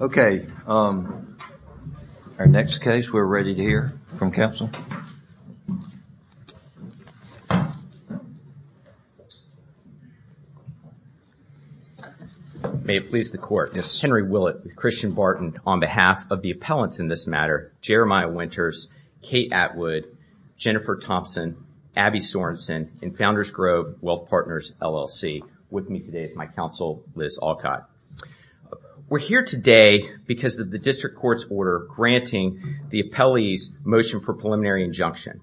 Okay, our next case we're ready to hear from counsel. May it please the court. Henry Willett with Christian Barton on behalf of the appellants in this matter, Jeremiah Winters, Kate Atwood, Jennifer Thompson, Abby Sorensen, and Founders Grove Wealth Partners, LLC. With me today is my counsel, Liz Alcott. We're here today because of the district court's order granting the appellee's motion for preliminary injunction.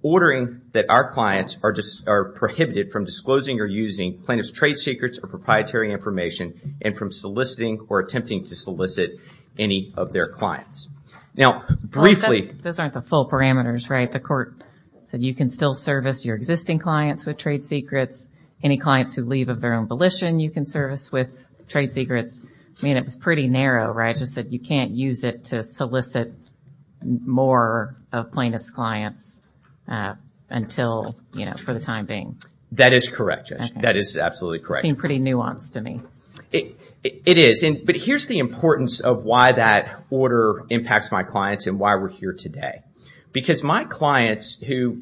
Ordering that our clients are prohibited from disclosing or using plaintiff's trade secrets or proprietary information and from soliciting or attempting to solicit any of their clients. Now, briefly... Those aren't the full parameters, right? The court said you can still service your existing clients with trade secrets, any clients who leave of their own volition, you can service with trade secrets. I mean, it was pretty narrow, right? Just that you can't use it to solicit more of plaintiff's clients until, you know, for the time being. That is correct, Judge. That is absolutely correct. It seemed pretty nuanced to me. It is, but here's the importance of why that order impacts my clients and why we're here today. Because my clients who...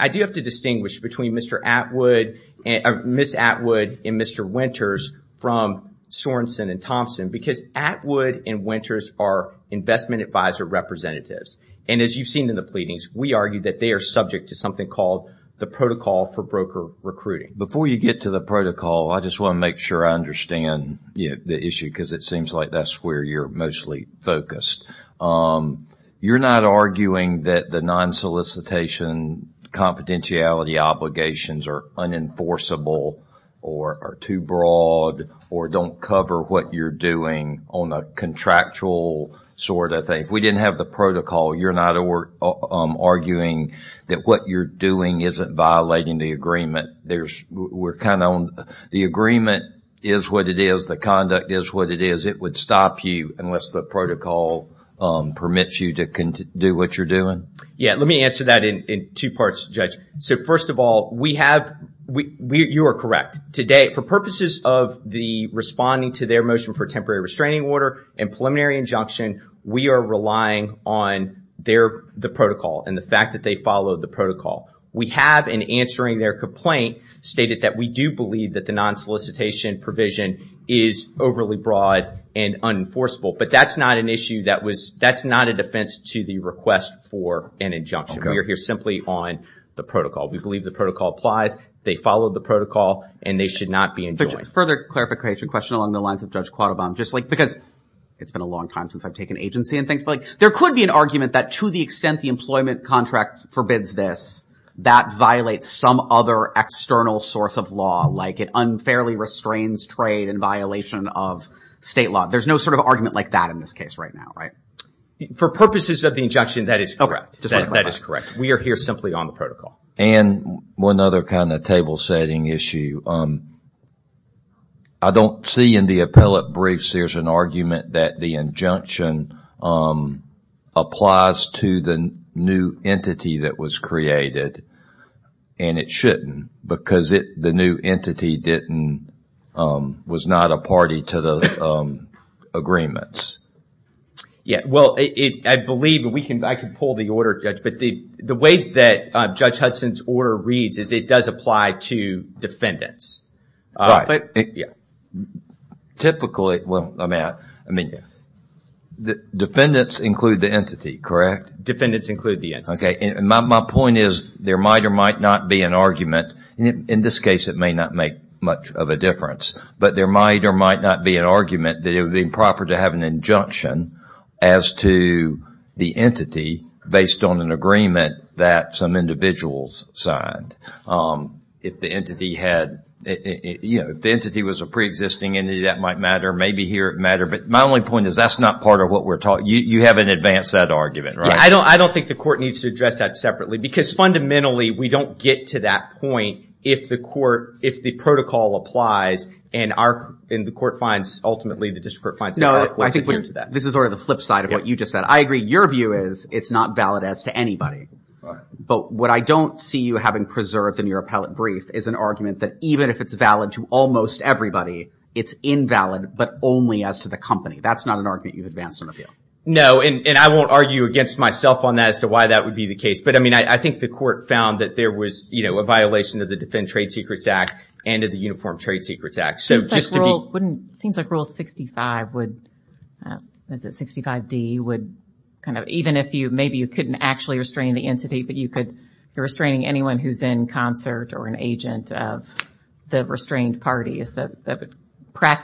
I do have to distinguish between Mr. Atwood and Mr. Winters from Sorensen and Thompson because Atwood and Winters are investment advisor representatives. And as you've seen in the pleadings, we argue that they are subject to something called the protocol for broker recruiting. Before you get to the protocol, I just want to make sure I understand the issue because it seems like that's where you're mostly focused. You're not arguing that the non-solicitation confidentiality obligations are unenforceable or are too broad or don't cover what you're doing on the contractual sort of thing. If we didn't have the protocol, you're not arguing that what you're doing isn't violating the agreement. There's... We're kind of on... The agreement is what it is. The conduct is what it is. It would stop you unless the protocol permits you to do what you're doing. Yeah, let me answer that in two parts, Judge. So first of all, we have... You are correct. Today, for purposes of the responding to their motion for temporary restraining order and preliminary injunction, we are relying on the protocol and the fact that they follow the protocol. We have, in answering their complaint, stated that we do believe that the non-solicitation provision is overly broad and unenforceable. But that's not an issue that was... That's not a defense to the request for an injunction. We are here simply on the protocol. We believe the protocol applies. They followed the protocol and they should not be enjoined. Further clarification, question along the lines of Judge Quattrobon, just like because it's been a long time since I've taken agency and things, but like there could be an argument that to the extent the employment contract forbids this, that violates some other external source of law, like it unfairly restrains trade and violation of state law. There's no sort of argument like that in this case right now, right? For purposes of the injunction, that is correct. That is correct. We are here simply on the protocol. And one other kind of table setting issue. I don't see in the appellate briefs there's an argument that the injunction applies to the new entity that was created and it shouldn't because the new entity was not a party to the agreements. Yeah, well, I believe that we can... I can pull the order, Judge, but the way that Judge Hudson's order reads is it does apply to defendants. Right. Typically, well, I'm at... I mean, the defendants include the entity, correct? Defendants include the entity. Okay. And my point is there might or might not be an argument. In this case, it may not make much of a difference, but there might or might not be an argument that it would be improper to have an injunction as to the entity based on an agreement that some individuals signed. If the entity had, you know, if the entity was a pre-existing entity, that might matter. Maybe here it mattered. But my only point is that's not part of what we're talking... You haven't advanced that argument, right? I don't... I don't think the court needs to address that separately because fundamentally we don't get to that point if the court... if the protocol applies and our... and the court finds, ultimately, the district court finds... No, I think this is sort of the flip side of what you just said. I agree. Your view is it's not valid as to anybody. But what I don't see you having preserved in your appellate brief is an argument that even if it's valid to almost everybody, it's invalid but only as to the company. That's not an advancement appeal. No, and I won't argue against myself on that as to why that would be the case. But, I mean, I think the court found that there was, you know, a violation of the Defend Trade Secrets Act and of the Uniform Trade Secrets Act. So, just to be... Seems like Rule 65 would... is it 65d would kind of... even if you... maybe you couldn't actually restrain the entity, but you could... you're restraining anyone who's in concert or an agent of the restrained party. Is the...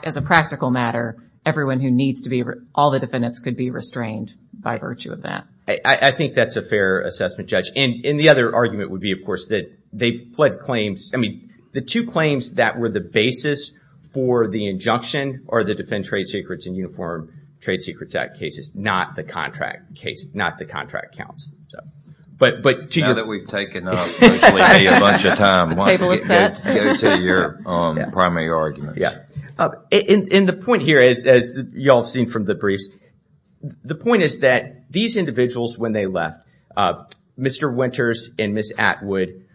as a practical matter, everyone who needs to be... all the defendants could be restrained by virtue of that. I think that's a fair assessment, Judge. And the other argument would be, of course, that they've fled claims... I mean, the two claims that were the basis for the injunction are the Defend Trade Secrets and Uniform Trade Secrets Act cases, not the contract case, not the contract accounts. But to your... Now that we've taken up a bunch of time, why don't we get to your primary arguments. Yeah. And the point here is, as you all have seen from the briefs, the point is that these individuals, when they left, Mr. Winters and Ms. Atwood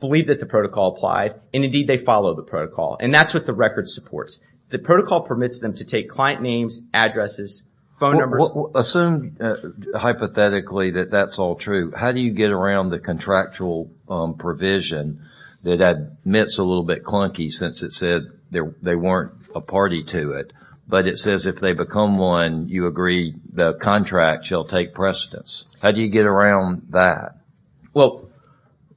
believe that the protocol applied and, indeed, they follow the protocol. And that's what the record supports. The protocol permits them to take client names, addresses, phone numbers... Assume, hypothetically, that that's all true. How do you get around the contractual provision that admits a little bit clunky, since it said there they weren't a party to it, but it says if they become one, you agree the contract shall take precedence. How do you get around that? Well,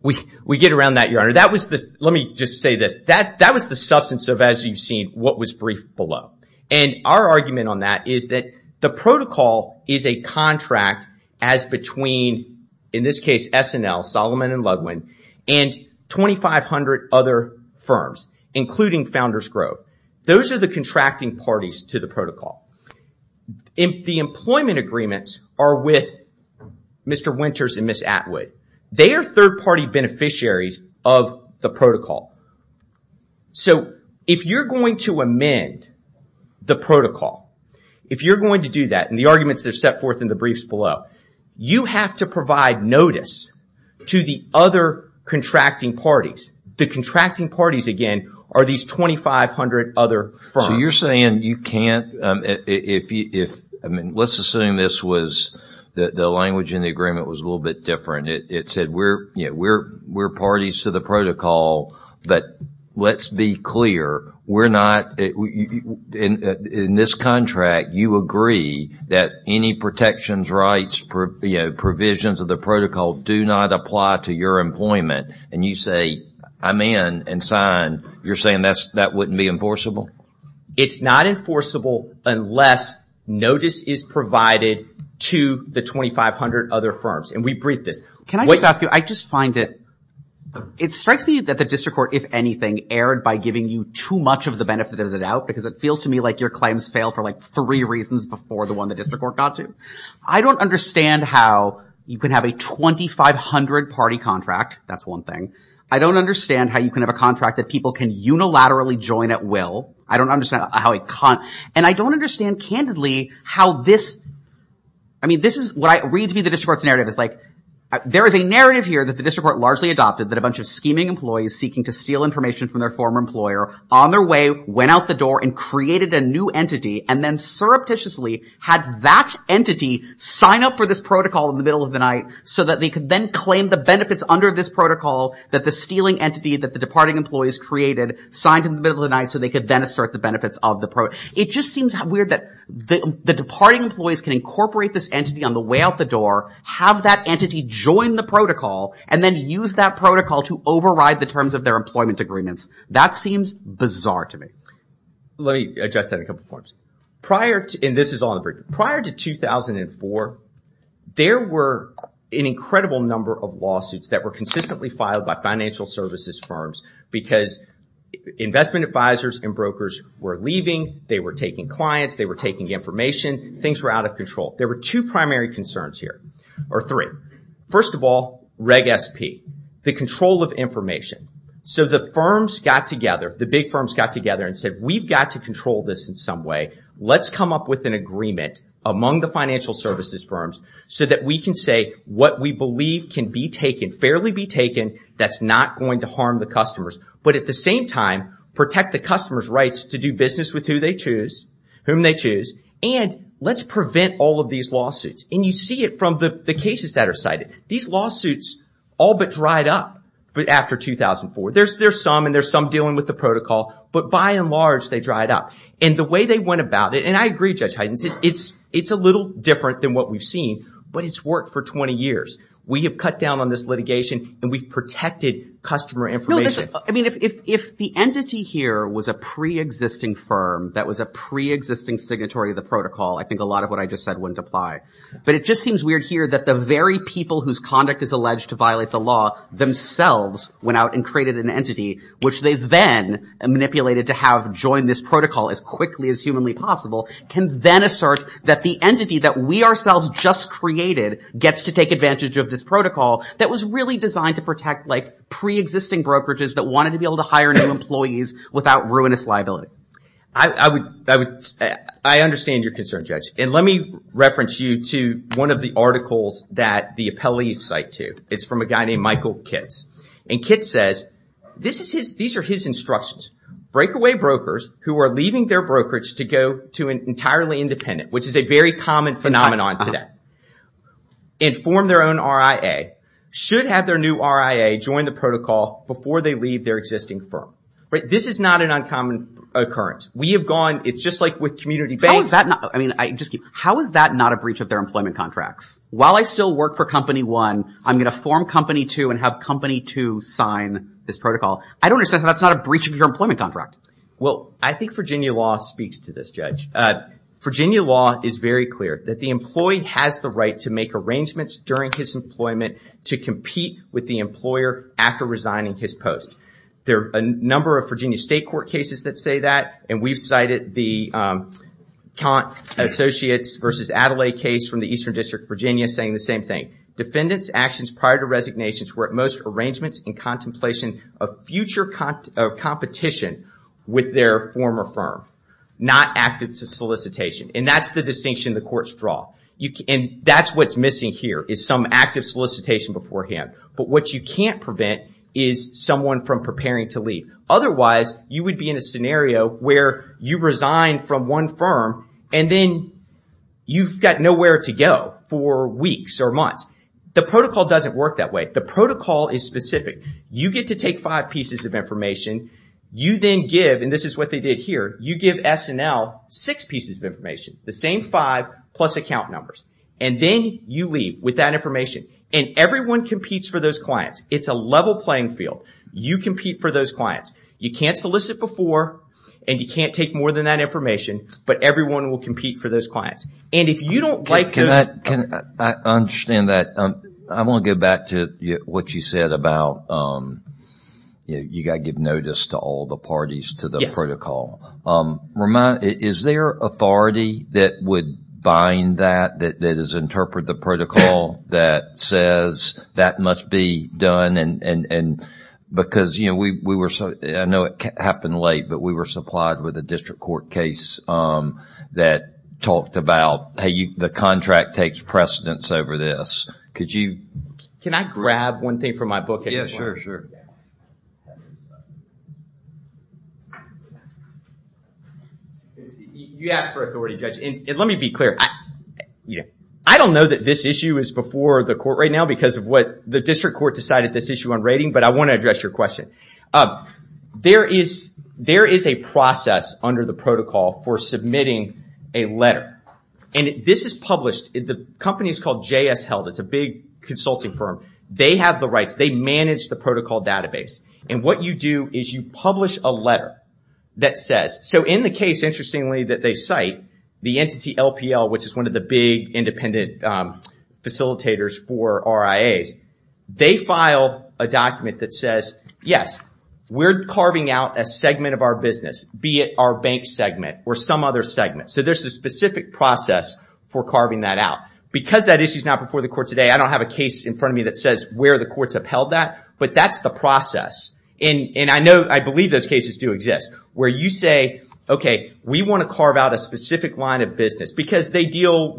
we get around that, Your Honor. That was this... Let me just say this. That was the substance of, as you've seen, what was briefed below. And our argument on that is that the protocol is a contract as between, in this case, S&L, Solomon & Ludwin, and 2,500 other firms, including Founders Grove. Those are the contracting parties to the protocol. The employment agreements are with Mr. Winters and Ms. Atwood. They are third-party beneficiaries of the protocol. So, if you're going to amend the protocol, if you're going to do that, and the arguments are set forth in the briefs below, you have to provide notice to the other contracting parties. The contracting parties, again, are these 2,500 other firms. So, you're saying you can't... Let's assume this was... The language in the agreement was a little bit different. It said, we're parties to the protocol, but let's be clear, we're not... In this contract, you agree that any protections, rights, provisions of the protocol do not apply to your employment. And you say, I'm in, and sign. You're saying that wouldn't be enforceable? It's not enforceable unless notice is provided to the 2,500 other firms. And we briefed this. Can I just ask you, I just find it... It strikes me that the District Court, if anything, erred by giving you too much of the benefit of the doubt, because it feels to me like your claims fail for, like, three reasons before the one the District Court got to. I don't understand how you can have a 2,500 party contract. That's one thing. I don't understand how you can have a contract that people can unilaterally join at will. I don't understand how a con... And I don't understand, candidly, how this... I mean, this is what I read to be the District Court's narrative. It's like, there is a narrative here that the District Court largely adopted that a bunch of scheming employees seeking to steal information from their former employer, on their way, went out the door and created a new entity, and then surreptitiously had that entity sign up for this protocol in the middle of the night so that they could then claim the benefits under this protocol that the stealing entity that the departing employees created signed in the middle of the night so they could then assert the benefits of the pro... It just seems weird that the departing employees can incorporate this entity on the way out the door, have that entity join the protocol, and then use that protocol to override the terms of their employment agreements. That seems bizarre to me. Let me address that in a couple of forms. Prior to... And this is on the... Prior to 2004, there were an incredible number of lawsuits that were consistently filed by financial services firms because investment advisors and brokers were leaving, they were taking clients, they were taking information. Things were out of control. There were two primary concerns here, or three. First of all, Reg SP, the control of information. So the firms got together, the big firms got together and said, we've got to control this in some way. Let's come up with an agreement among the financial services firms so that we can say what we believe can be taken, fairly be taken, that's not going to harm the customers. But at the same time, protect the customer's rights to do business with who they choose, whom they choose, and let's prevent all of these lawsuits. And you see it from the cases that are cited. These lawsuits all but dried up after 2004. There's some, and there's some dealing with the protocol, but by and large, they dried up. And the way they went about it, and I agree, Judge Heiden, it's a little different than what we've seen, but it's worked for 20 years. We have cut down on this litigation, and we've protected customer information. I mean, if the entity here was a pre-existing firm that was a pre-existing signatory of the protocol, I think a lot of what I just said wouldn't apply. But it just seems weird here that the very people whose conduct is alleged to violate the law themselves went out and created an entity, which they then manipulated to have join this protocol as quickly as humanly possible, can then assert that the entity that we ourselves just created gets to take advantage of this protocol that was really designed to protect, like, pre-existing brokerages that wanted to be able to hire new employees without ruinous liability. I would, I understand your concern, Judge, and let me reference you to one of the articles that the appellees cite to. It's from a guy named Michael Kitts, and Kitts says, this is his, these are his instructions. Breakaway brokers who are leaving their brokerage to go to an entirely independent, which is a very common phenomenon today, and form their own RIA, should have their new RIA join the protocol before they leave their existing firm, right? This is not an uncommon occurrence. We have gone, it's just like with community banks. How is that not, I mean, I just keep, how is that not a breach of their employment contracts? While I still work for company one, I'm gonna form company two and have company two sign this protocol. I don't understand how that's not a breach of your employment contract. Well, I think Virginia law speaks to this, Judge. Virginia law is very clear that the employee has the right to make arrangements during his employment to compete with the employer after resigning his post. There are a number of Virginia state court cases that say that, and we've cited the Kant Associates versus Adelaide case from the Eastern District of Virginia saying the same thing. Defendants' actions prior to resignations were at most arrangements in contemplation of future competition with their former firm, not active solicitation, and that's the distinction the courts draw, and that's what's missing here is some active solicitation beforehand, but what you can't prevent is someone from preparing to leave. Otherwise, you would be in a scenario where you resign from one firm and then you've got nowhere to go for weeks or months. The protocol doesn't work that way. The protocol is specific. You get to take five pieces of information. You then give, and this is what they did here, you give SNL six pieces of information, the same five plus account numbers, and then you leave with that information, and everyone competes for those clients. It's a level playing field. You compete for those clients. You can't solicit before, and you can't take more than that information, but everyone will compete for those clients, and if you don't like those... I understand that. I want to go back to what you said about you've got to give authority that would bind that, that has interpreted the protocol that says that must be done, and because we were... I know it happened late, but we were supplied with a district court case that talked about, hey, the contract takes precedence over this. Could you... Can I grab one thing from my book at this point? Sure, sure. You asked for authority, Judge, and let me be clear. I don't know that this issue is before the court right now because of what the district court decided this issue on rating, but I want to address your question. There is a process under the protocol for submitting a letter, and this is published. The company is called JS Health. It's a big consulting firm. They have the rights. They manage the protocol database, and what you do is you publish a letter that says... So in the case, interestingly, that they cite, the entity LPL, which is one of the big independent facilitators for RIAs, they file a document that says, yes, we're carving out a segment of our business, be it our bank segment or some other segment. So there's a specific process for carving that out. Because that issue is not before the court today, I don't have a case in front of me that says where the court's upheld that, but that's the process. And I believe those cases do exist where you say, okay, we want to carve out a specific line of business because they're getting all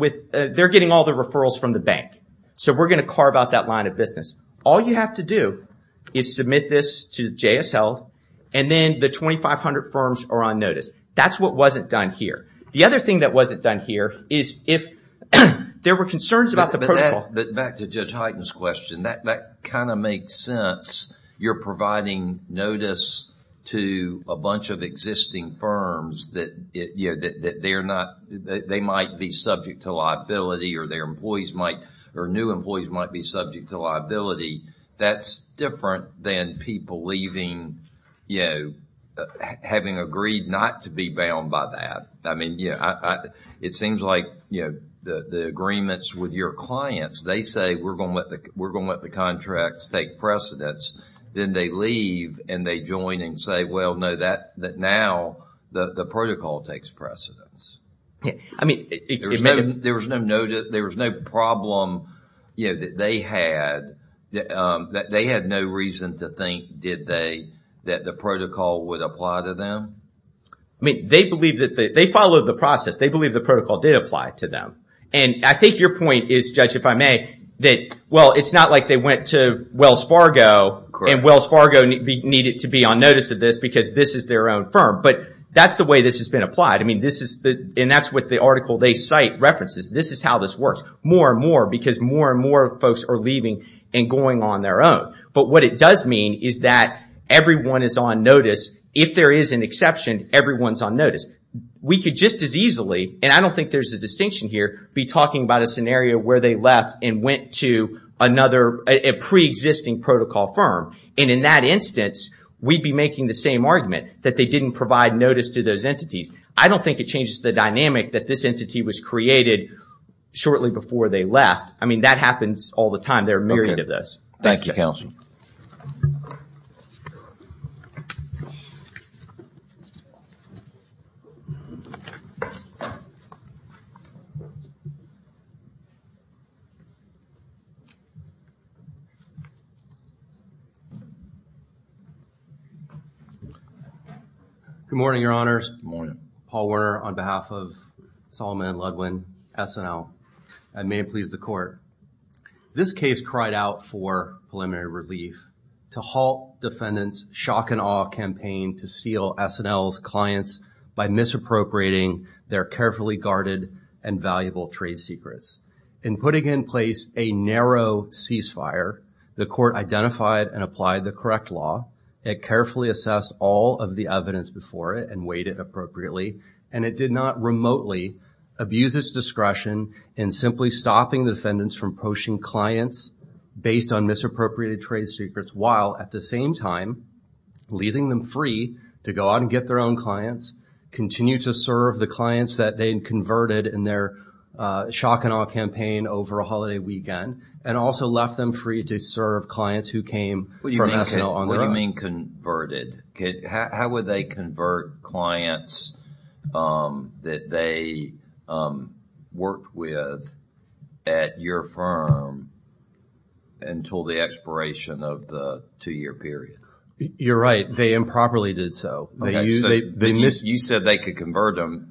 the referrals from the bank. So we're going to carve out that line of business. All you have to do is submit this to JS Health, and then the 2,500 firms are on notice. That's what wasn't done here. The other thing that wasn't done here is if there were concerns about the protocol... Back to Judge Hyten's question, that kind of makes sense. You're providing notice to a bunch of existing firms that they might be subject to liability or their employees might, or new employees might be subject to liability. That's different than people leaving, having agreed not to be bound by that. I mean, it seems like the agreements with your clients, they say we're going to let the contracts take precedence. Then they leave and they join and say, well, no, that now the protocol takes precedence. There was no problem that they had. They had no reason to think, did they, that the protocol would apply to them? I mean, they follow the process. They believe the protocol did apply to them. And I think your point is, Judge, if I may, that, well, it's not like they went to Wells Fargo and Wells Fargo needed to be on notice of this because this is their own firm. But that's the way this has been applied. I mean, and that's what the article they cite references. This is how this works. More and more because more and more folks are leaving and going on their own. But what it does mean is that everyone is on notice. If there is an exception, everyone's on notice. We could just as easily, and I don't think there's a distinction here, be talking about a scenario where they left and went to another pre-existing protocol firm. And in that instance, we'd be making the same argument, that they didn't provide notice to those entities. I don't think it changes the dynamic that this entity was created shortly before they left. I mean, that happens all the time. There are myriad of those. Thank you, Counsel. Good morning, Your Honors. Paul Werner on behalf of Solomon and Ludwin, SNL. I would like to begin by saying that we are committed to providing more preliminary relief to halt defendants' shock-and-awe campaign to steal SNL's clients by misappropriating their carefully guarded and valuable trade secrets. In putting in place a narrow ceasefire, the court identified and applied the correct law. It carefully assessed all of the evidence before it and weighed it appropriately. And it did not remotely abuse its discretion in simply stopping the defendants from poaching clients based on misappropriation of trade secrets, while at the same time, leaving them free to go out and get their own clients, continue to serve the clients that they converted in their shock-and-awe campaign over a holiday weekend, and also left them free to serve clients who came from SNL on their own. What do you mean converted? How would they convert clients that they worked with at your firm until the expiration of the two-year period? You're right. They improperly did so. You said they could convert them.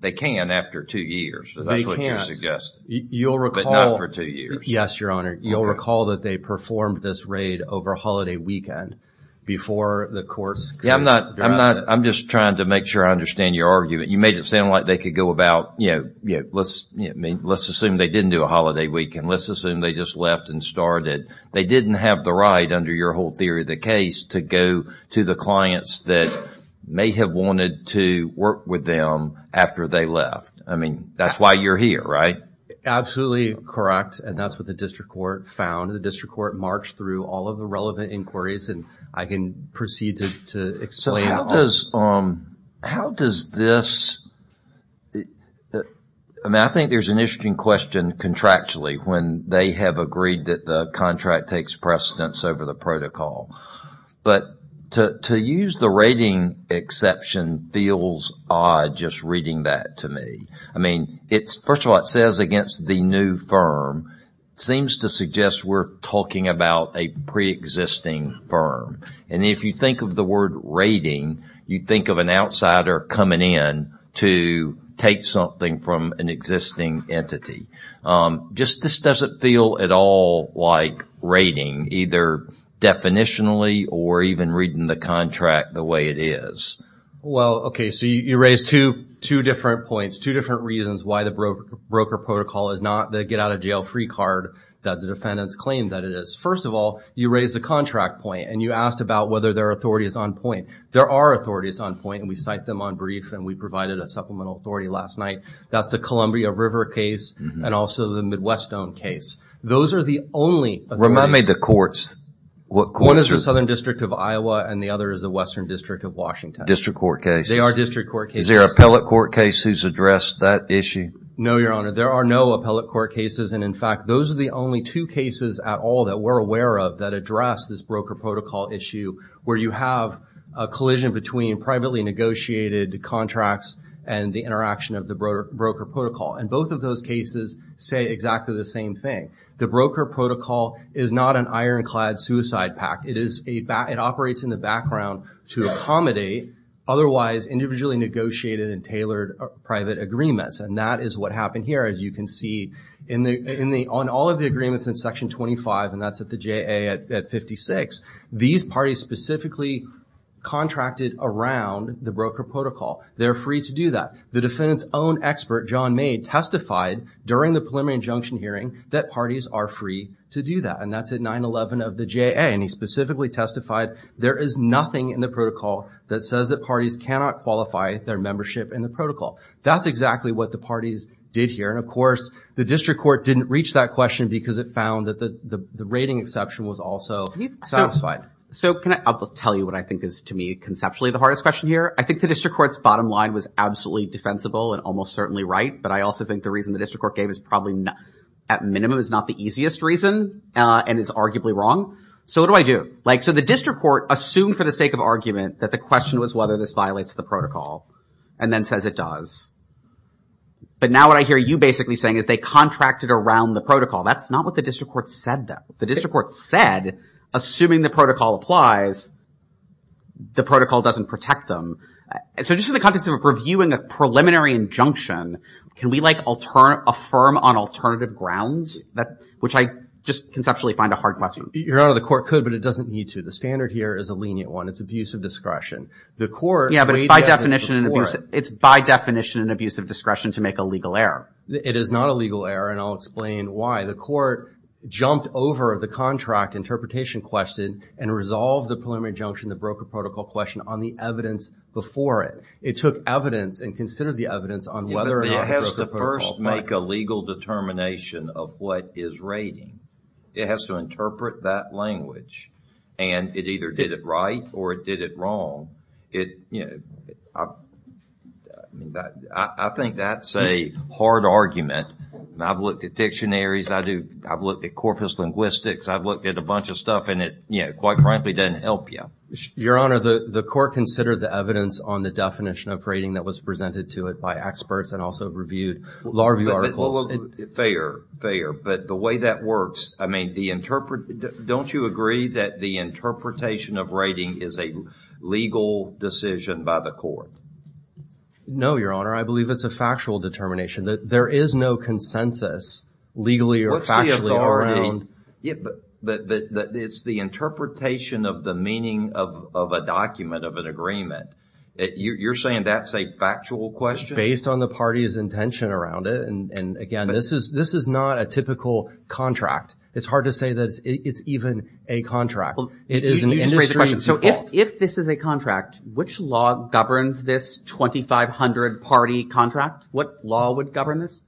They can after two years. That's what you're suggesting. They can't. But not for two years. Yes, Your Honor. You'll recall that they performed this raid over a holiday weekend before the courts could draft it. I'm just trying to make sure I understand your argument. You made it sound like they could go about, let's assume they didn't do a holiday weekend. Let's assume they just left and started. They didn't have the right, under your whole theory of the case, to go to the clients that may have wanted to work with them after they left. I mean, that's why you're here, right? Absolutely correct, and that's what the district court found. The district court marched through all of the relevant inquiries, and I can proceed to explain. How does this... I mean, I think there's an interesting question contractually when they have agreed that the contract takes precedence over the protocol. But to use the rating exception feels odd just reading that to me. I mean, first of all, it says against the new firm. It seems to suggest we're talking about a pre-existing firm. And if you think of the word rating, you think of an outsider coming in to take something from an existing entity. This doesn't feel at all like rating, either definitionally or even reading the contract the way it is. Well, okay, so you raise two different points, two different reasons why the broker protocol is not the get-out-of-jail-free card that the defendants claim that it is. First of all, you raise the contract point, and you asked about whether their authority is on point. There are authorities on point, and we cite them on brief, and we provided a supplemental authority last night. That's the Columbia River case and also the Midwestone case. Those are the only... Remind me of the courts. What courts are... One is the Southern District of Iowa, and the other is the Western District of Washington. District court cases. They are district court cases. Is there an appellate court case who's addressed that issue? No, Your Honor. There are no appellate court cases, and in fact, those are the only two cases at all that we're aware of that address this broker protocol issue where you have a collision between privately negotiated contracts and the interaction of the broker protocol, and both of those cases say exactly the same thing. The broker protocol is not an ironclad suicide pact. It operates in the background to accommodate otherwise individually negotiated and tailored private agreements, and that is what happened here, as you can see. On all of the agreements in Section 25, and that's at the JA at 56, these parties specifically contracted around the broker protocol. They're free to do that. The defendant's own expert, John May, testified during the preliminary injunction hearing that parties are free to do that, and that's at 911 of the JA, and he specifically testified there is nothing in the protocol that says that parties cannot qualify their membership in the protocol. That's exactly what the parties did here, and of course, the district court didn't reach that question because it found that the rating exception was also satisfied. So can I tell you what I think is to me conceptually the hardest question here? I think the district court's bottom line was absolutely defensible and almost certainly right, but I also think the reason the district court gave is probably at minimum is not the easiest reason and is arguably wrong. So what do I do? So the district court assumed for the sake of argument that the question was whether this violates the protocol and then says it does. But now what I hear you basically saying is they contracted around the That's not what the district court said, though. The district court said, assuming the protocol applies, the protocol doesn't protect them. So just in the context of reviewing a preliminary injunction, can we, like, affirm on alternative grounds? Which I just conceptually find a hard question. Your Honor, the court could, but it doesn't need to. The standard here is a lenient one. It's abuse of discretion. The court Yeah, but by definition It's by definition an abuse of discretion to make a legal error. It is not a legal error, and I'll explain why. The court jumped over the contract interpretation question and resolved the preliminary injunction, the broker protocol question, on the evidence before it. It took evidence and considered the evidence on whether or not It has to first make a legal determination of what is rating. It has to interpret that language. And it either did it right or it did it wrong. It, you know, I think that's a hard argument. I've looked at dictionaries. I've looked at corpus linguistics. I've looked at a bunch of stuff, and it, you know, quite frankly, doesn't help you. Your Honor, the court considered the evidence on the definition of rating that was presented to it by experts and also reviewed law review articles. Fair, fair. But the way that works, I mean, the interpret, don't you agree that the interpretation of rating is a legal decision by the court? No, Your Honor. I believe it's a factual determination. There is no consensus, legally or factually, around What's the authority? It's the interpretation of the meaning of a document, of an agreement. You're saying that's a factual question? Based on the party's intention around it, and again, this is not a typical contract. It's hard to say that it's even a contract. It is an industry default. So if this is a contract, which law governs this 2,500-party contract? What law would govern this?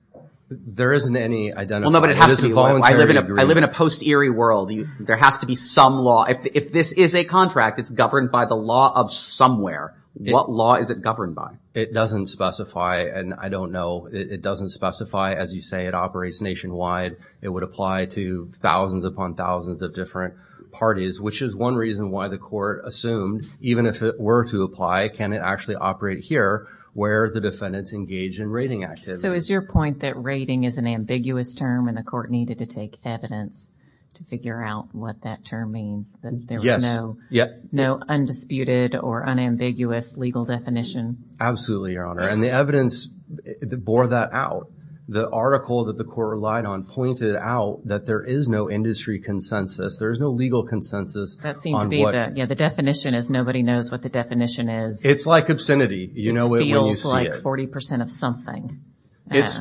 There isn't any identified. I live in a post-eerie world. There has to be some law. If this is a contract, it's governed by the law of somewhere. What law is it governed by? It doesn't specify, and I don't know. It doesn't specify. As you say, it operates nationwide. It would apply to thousands upon thousands of different parties, which is one reason why the court assumed, even if it were to apply, can it actually operate here, where the defendants engage in raiding activity? So is your point that raiding is an ambiguous term, and the court needed to take evidence to figure out what that term means? Yes. No undisputed or unambiguous legal definition? Absolutely, Your Honor. And the evidence bore that out. The article that the court relied on pointed out that there is no industry consensus. There is no legal consensus. The definition is nobody knows what the definition is. It's like obscenity. You know it when you see it. It feels like 40% of something.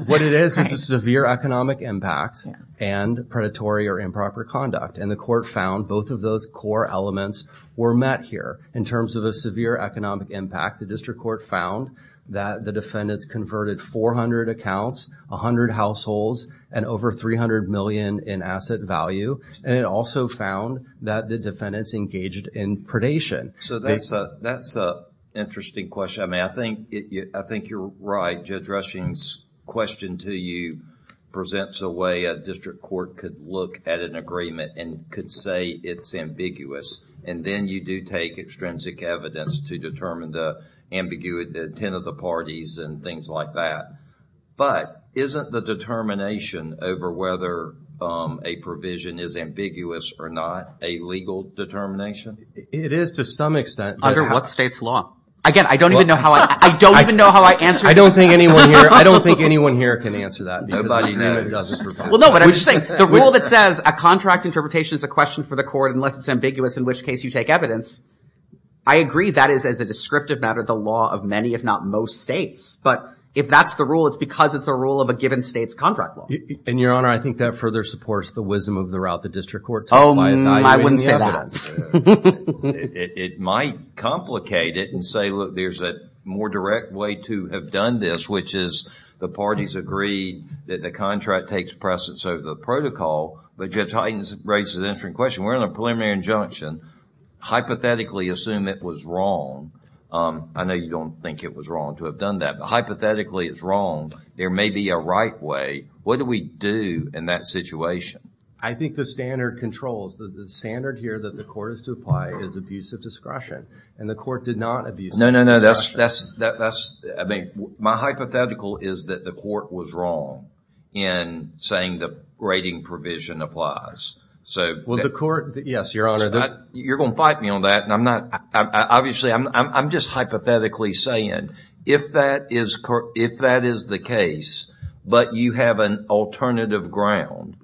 What it is is a severe economic impact and predatory or improper conduct, and the court found both of those core elements were met here. In terms of a severe economic impact, the district court found that the defendants converted 400 accounts, 100 households, and over $300 million in asset value, and it also found that the defendants engaged in predation. So that's an interesting question. I mean, I think you're right. Judge Rushing's question to you presents a way a district court could look at an agreement and could say it's ambiguous, and then you do take extrinsic evidence to determine the ambiguity, the intent of the parties and things like that, but isn't the determination over whether a provision is ambiguous or not a legal determination? It is to some extent. Under what state's law? Again, I don't even know how I answered that. I don't think anyone here can answer that. Nobody knows. Well, no, but I'm just saying the rule that says a contract interpretation is a question for the court unless it's ambiguous, in which case you take evidence, I agree that is, as a descriptive matter, the law of many, if not most states, but if that's the rule, it's because it's a rule of a given state's contract law. And, Your Honor, I think that further supports the wisdom of the route the district court took by evaluating the evidence. Oh, I wouldn't say that. It might complicate it and say, look, there's a more direct way to have done this, which is the parties agreed that the contract takes precedence over the protocol, but Judge Hyten raises an interesting question. We're in a preliminary injunction. Hypothetically, assume it was wrong. I know you don't think it was wrong to have done that. Hypothetically, it's wrong. There may be a right way. What do we do in that situation? I think the standard controls, the standard here that the court is to apply is abuse of discretion. And the court did not abuse of discretion. No, no, no, that's, I mean, my hypothetical is that the court was wrong in saying the rating provision applies. Well, the court, yes, Your Honor. You're going to fight me on that. Obviously, I'm just hypothetically saying if that is the case, but you have an alternative ground,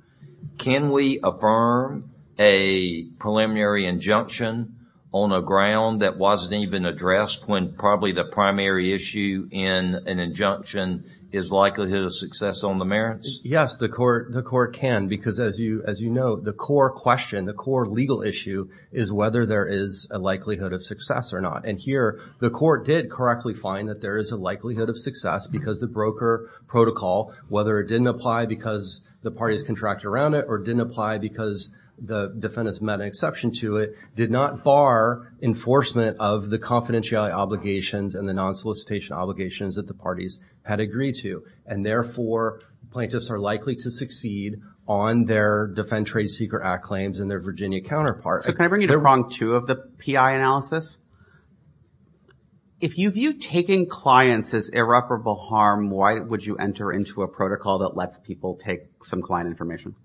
can we affirm a preliminary injunction on a ground that wasn't even addressed when probably the primary issue in an injunction is likelihood of success on the merits? Yes, the court can. Because as you know, the core question, the core legal issue is whether there is a likelihood of success or not. And here, the court did correctly find that there is a likelihood of success because the broker protocol, whether it didn't apply because the parties contract around it or didn't apply because the defendants met an exception to it, did not bar enforcement of the confidentiality obligations and the non-solicitation obligations that the parties had agreed to. And therefore, plaintiffs are likely to succeed on their Defend Trade Seeker Act claims and their Virginia counterpart. So can I bring you to prong two of the PI analysis? If you view taking clients as irreparable harm, why would you enter into a protocol that lets people take some client information?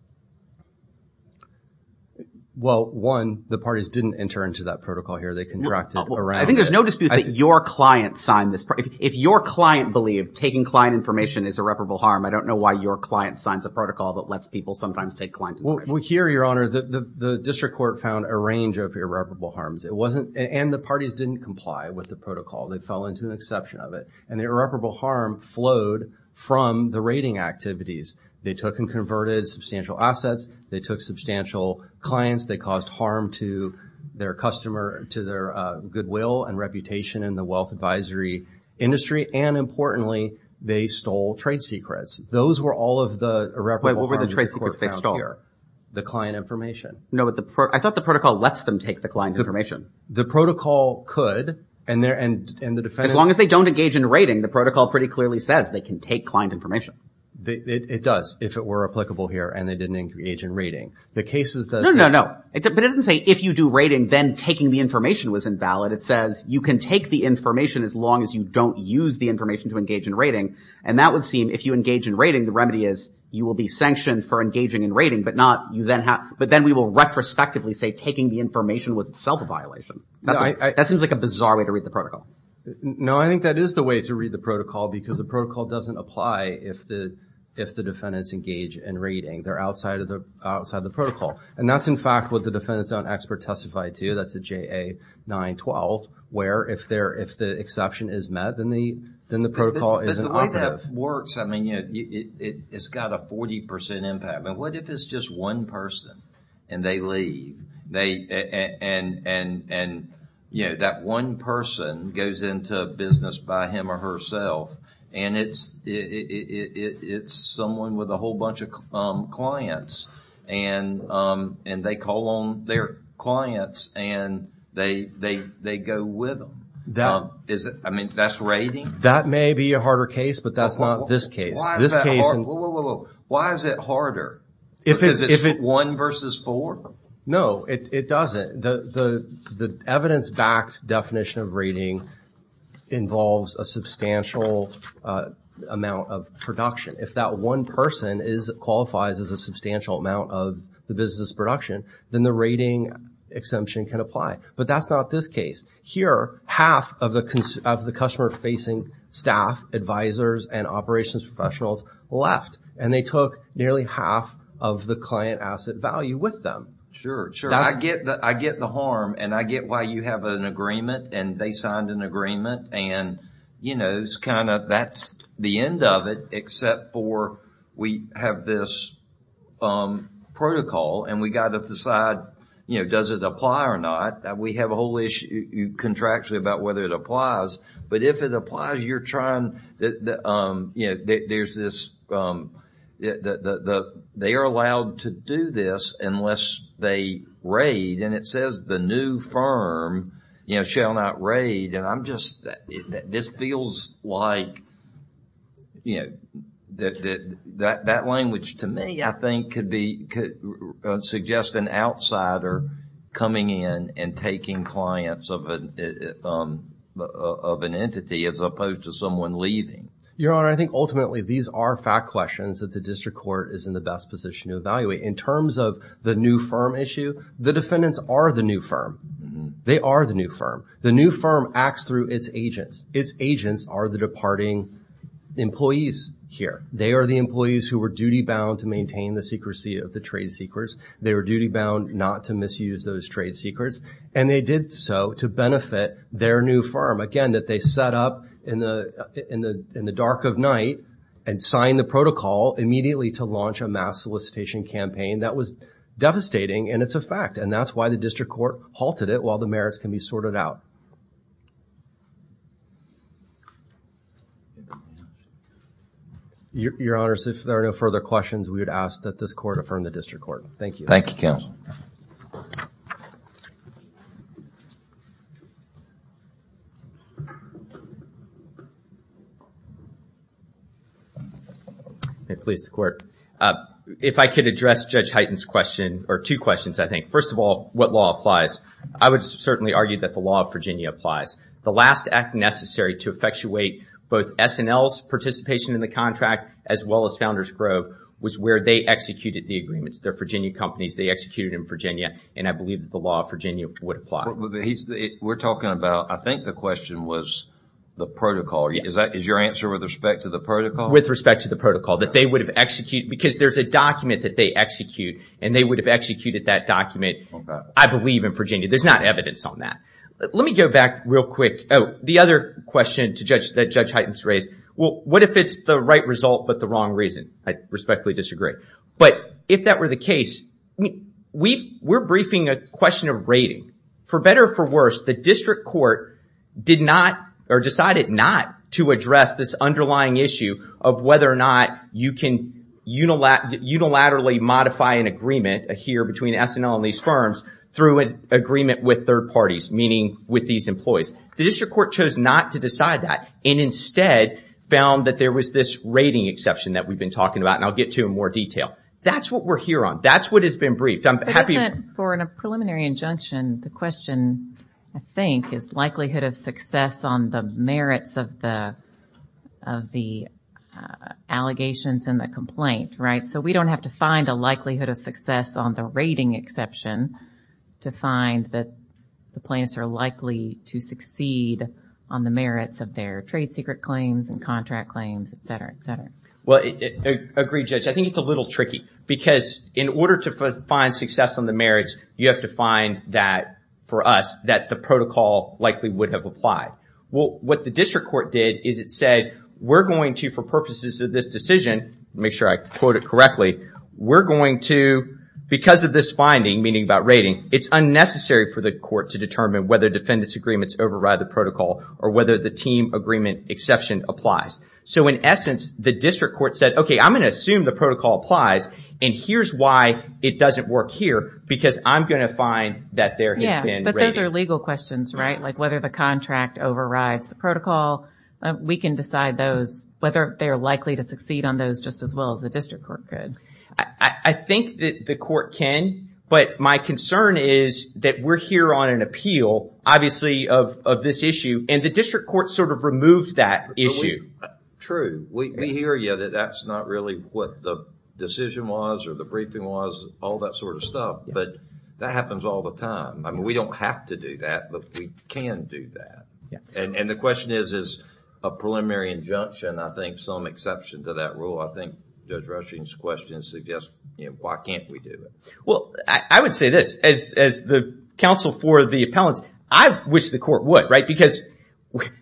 Well, one, the parties didn't enter into that protocol here. They contracted around it. I think there's no dispute that your client signed this. If your client believed taking client information is irreparable harm, I don't know why your client signs a protocol that lets people sometimes take client information. Well, here, Your Honor, the district court found a range of irreparable harms. And the parties didn't comply with the protocol. They fell into an exception of it. And the irreparable harm flowed from the rating activities. They took and converted substantial assets. They took substantial clients. They caused harm to their customer, to their goodwill and reputation in the wealth advisory industry. And importantly, they stole trade secrets. Those were all of the irreparable harms Wait, what were the trade secrets they stole? The client information. No, but I thought the protocol lets them take the client information. The protocol could. As long as they don't engage in rating, the protocol pretty clearly says they can take client information. It does, if it were applicable here and they didn't engage in rating. No, no, no. But it doesn't say if you do rating, then taking the information was invalid. It says you can take the information as long as you don't use the information to engage in rating. And that would seem, if you engage in rating, the remedy is you will be sanctioned for engaging in rating, but then we will retrospectively say taking the information was itself a violation. That seems like a bizarre way to read the protocol. No, I think that is the way to read the protocol because the protocol doesn't apply if the defendants engage in rating. They're outside of the protocol. And that's in fact what the defendants' own expert testified to. That's the JA-912, where if the exception is met, then the protocol isn't operative. But the way that works, I mean, you know, it's got a 40% impact. But what if it's just one person and they leave? And, you know, that one person goes into business by him or herself and it's someone with a whole bunch of clients and they call on their clients and they go with them. I mean, that's rating? That may be a harder case, but that's not this case. Why is it harder? Because it's one versus four? No, it doesn't. The evidence-backed definition of rating involves a substantial amount of production. If that one person qualifies as a substantial amount of the business production, then the rating exemption can apply. But that's not this case. Here, half of the customer-facing staff, advisors, and operations professionals left. And they took nearly half of the client asset value with them. Sure, sure. I get the harm and I get why you have an agreement and they signed an agreement. And, you know, it's kind of that's the end of it except for we have this protocol and we got to decide, you know, does it apply or not? We have a whole issue, contractually, about whether it applies. But if it applies, you're trying, you know, there's this, they are allowed to do this unless they raid. And it says the new firm, you know, shall not raid. And I'm just, this feels like, you know, that language to me, I think, could suggest an outsider coming in and taking clients of an entity as opposed to someone leaving. Your Honor, I think ultimately these are fact questions that the district court is in the best position to evaluate. In terms of the new firm issue, the defendants are the new firm. They are the new firm. The new firm acts through its agents. Its agents are the departing employees here. They are the employees who were duty bound to maintain the secrecy of the trade secrets. They were duty bound not to misuse those trade secrets. And they did so to benefit their new firm. Again, that they set up in the dark of night and signed the protocol immediately to launch a mass solicitation campaign. That was devastating and it's a fact. And that's why the district court halted it while the merits can be sorted out. Your Honor, if there are no further questions, we would ask that this court affirm the district court. Thank you. Thank you, counsel. If I could address Judge Hyten's question or two questions, I think. First of all, what law applies? I would certainly argue that the law of Virginia applies. The last act necessary to effectuate both S&L's participation in the contract as well as Founders Grove was where they executed the agreements. They're Virginia companies. They executed in Virginia and I believe the law of Virginia would apply. We're talking about I think the question was the protocol. Is your answer with respect to the protocol? With respect to the protocol. That they would have executed because there's a document that they execute and they would have executed that document, I believe, in Virginia. There's not evidence on that. Let me go back real quick. The other question that Judge Hyten's raised. What if it's the right result but the wrong reason? I respectfully disagree. But if that were the case, we're briefing a question of rating. For better or for worse, the district court decided not to address this underlying issue of whether or not you can unilaterally modify an agreement a year before between S&L and these firms through an agreement with third parties. with these employees. The district court chose not to decide that and instead found that there was this rating exception that we've been talking about and I'll get to it in more detail. That's what we're here on. That's what has been briefed. For a preliminary injunction, the question, is likelihood of success on the merits of the allegations and the complaint. Right? So we don't have to find a likelihood of success on the rating exception to find that the plaintiffs are likely to succeed on the merits of their trade secret claims and contract claims, et cetera, et cetera. Well, I agree, Judge. I think it's a little tricky because in order to find success on the merits, you have to find that for us that the protocol likely would have applied. Well, what the district court did is it said, we're going to, for purposes of this decision, make sure I quote it correctly, we're going to, because of this rating exception, because of this finding, meaning about rating, it's unnecessary for the court to determine whether defendants' agreements override the protocol or whether the team agreement exception applies. So in essence, the district court said, okay, I'm going to assume the protocol applies and here's why it doesn't work here because I'm going to find that there has been rating. Yeah, but those are legal questions, right? Like whether the contract overrides the protocol. We can decide those, whether they're likely to succeed on those just as well as the district court could. I think that the court can, but my concern is that we're here on an appeal, obviously, of this issue and the district court sort of removes that issue. True. We hear, yeah, that that's not really what the decision was or the briefing was, all that sort of stuff, but that happens all the time. I mean, we don't have to do that, but we can do that. And the question is, is a preliminary injunction, I think some exception to that rule. I think Judge Rushing's question suggests why can't we do it. Well, I would say this. As the counsel for the appellants, I wish the court would, right? Because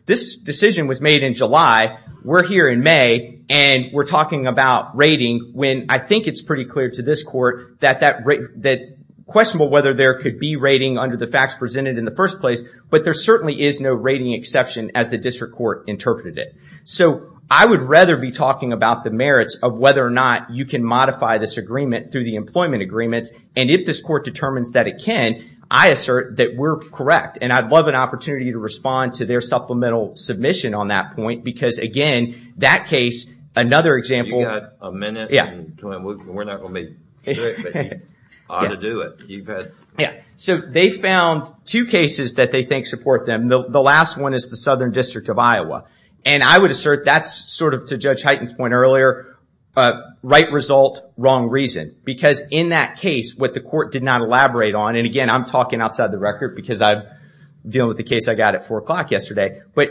this decision was made in July. We're here in May and we're talking about rating when I think it's pretty clear to this court that questionable whether there could be rating under the facts presented in the first place, but there certainly is no rating exception as the district court interpreted it. So I would rather be talking about the merits of whether or not you can modify this agreement through the employment agreements. And if this court determines that it can, I assert that we're correct. And I'd love an opportunity to respond to their supplemental submission on that point because, again, that case, another example... You've got a minute and we're not going to be strict, but you ought to do it. Yeah. So they found two cases that they think support them. The last one is the Southern District of Iowa. And I would assert that's sort of, to Judge Heighten's point earlier, right result, wrong reason. Because in that case, what the court did not elaborate on... And, again, I'm talking outside the record because I'm dealing with the case I got at 4 o'clock yesterday. But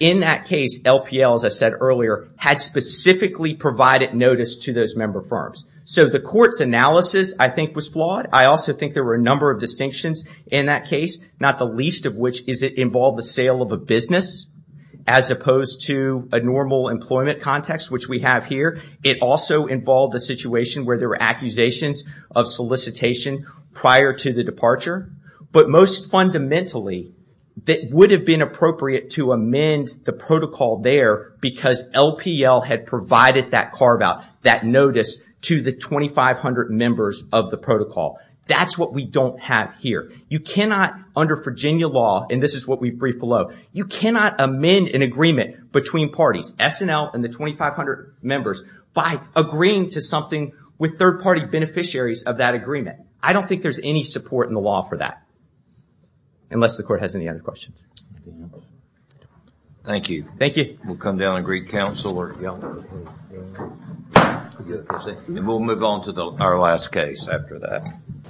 in that case, LPL, as I said earlier, had specifically provided notice to those member firms. So the court's analysis, I think, was flawed. I also think there were a number of distinctions in that case, not the least of which is it involved the sale of a business as opposed to a normal employment context, which we have here. It also involved a situation where there were accusations of solicitation prior to the departure. But most fundamentally, it would have been appropriate to amend the protocol there because LPL had provided that carve-out, that notice, to the 2,500 members of the protocol. That's what we don't have here. You cannot, under Virginia law, and this is what we've briefed below, you cannot amend an agreement between parties, between SNL and the 2,500 members by agreeing to something with third-party beneficiaries of that agreement. I don't think there's any support in the law for that. Unless the court has any other questions. Thank you. Thank you. We'll come down and greet counsel. And we'll move on to our last case after that.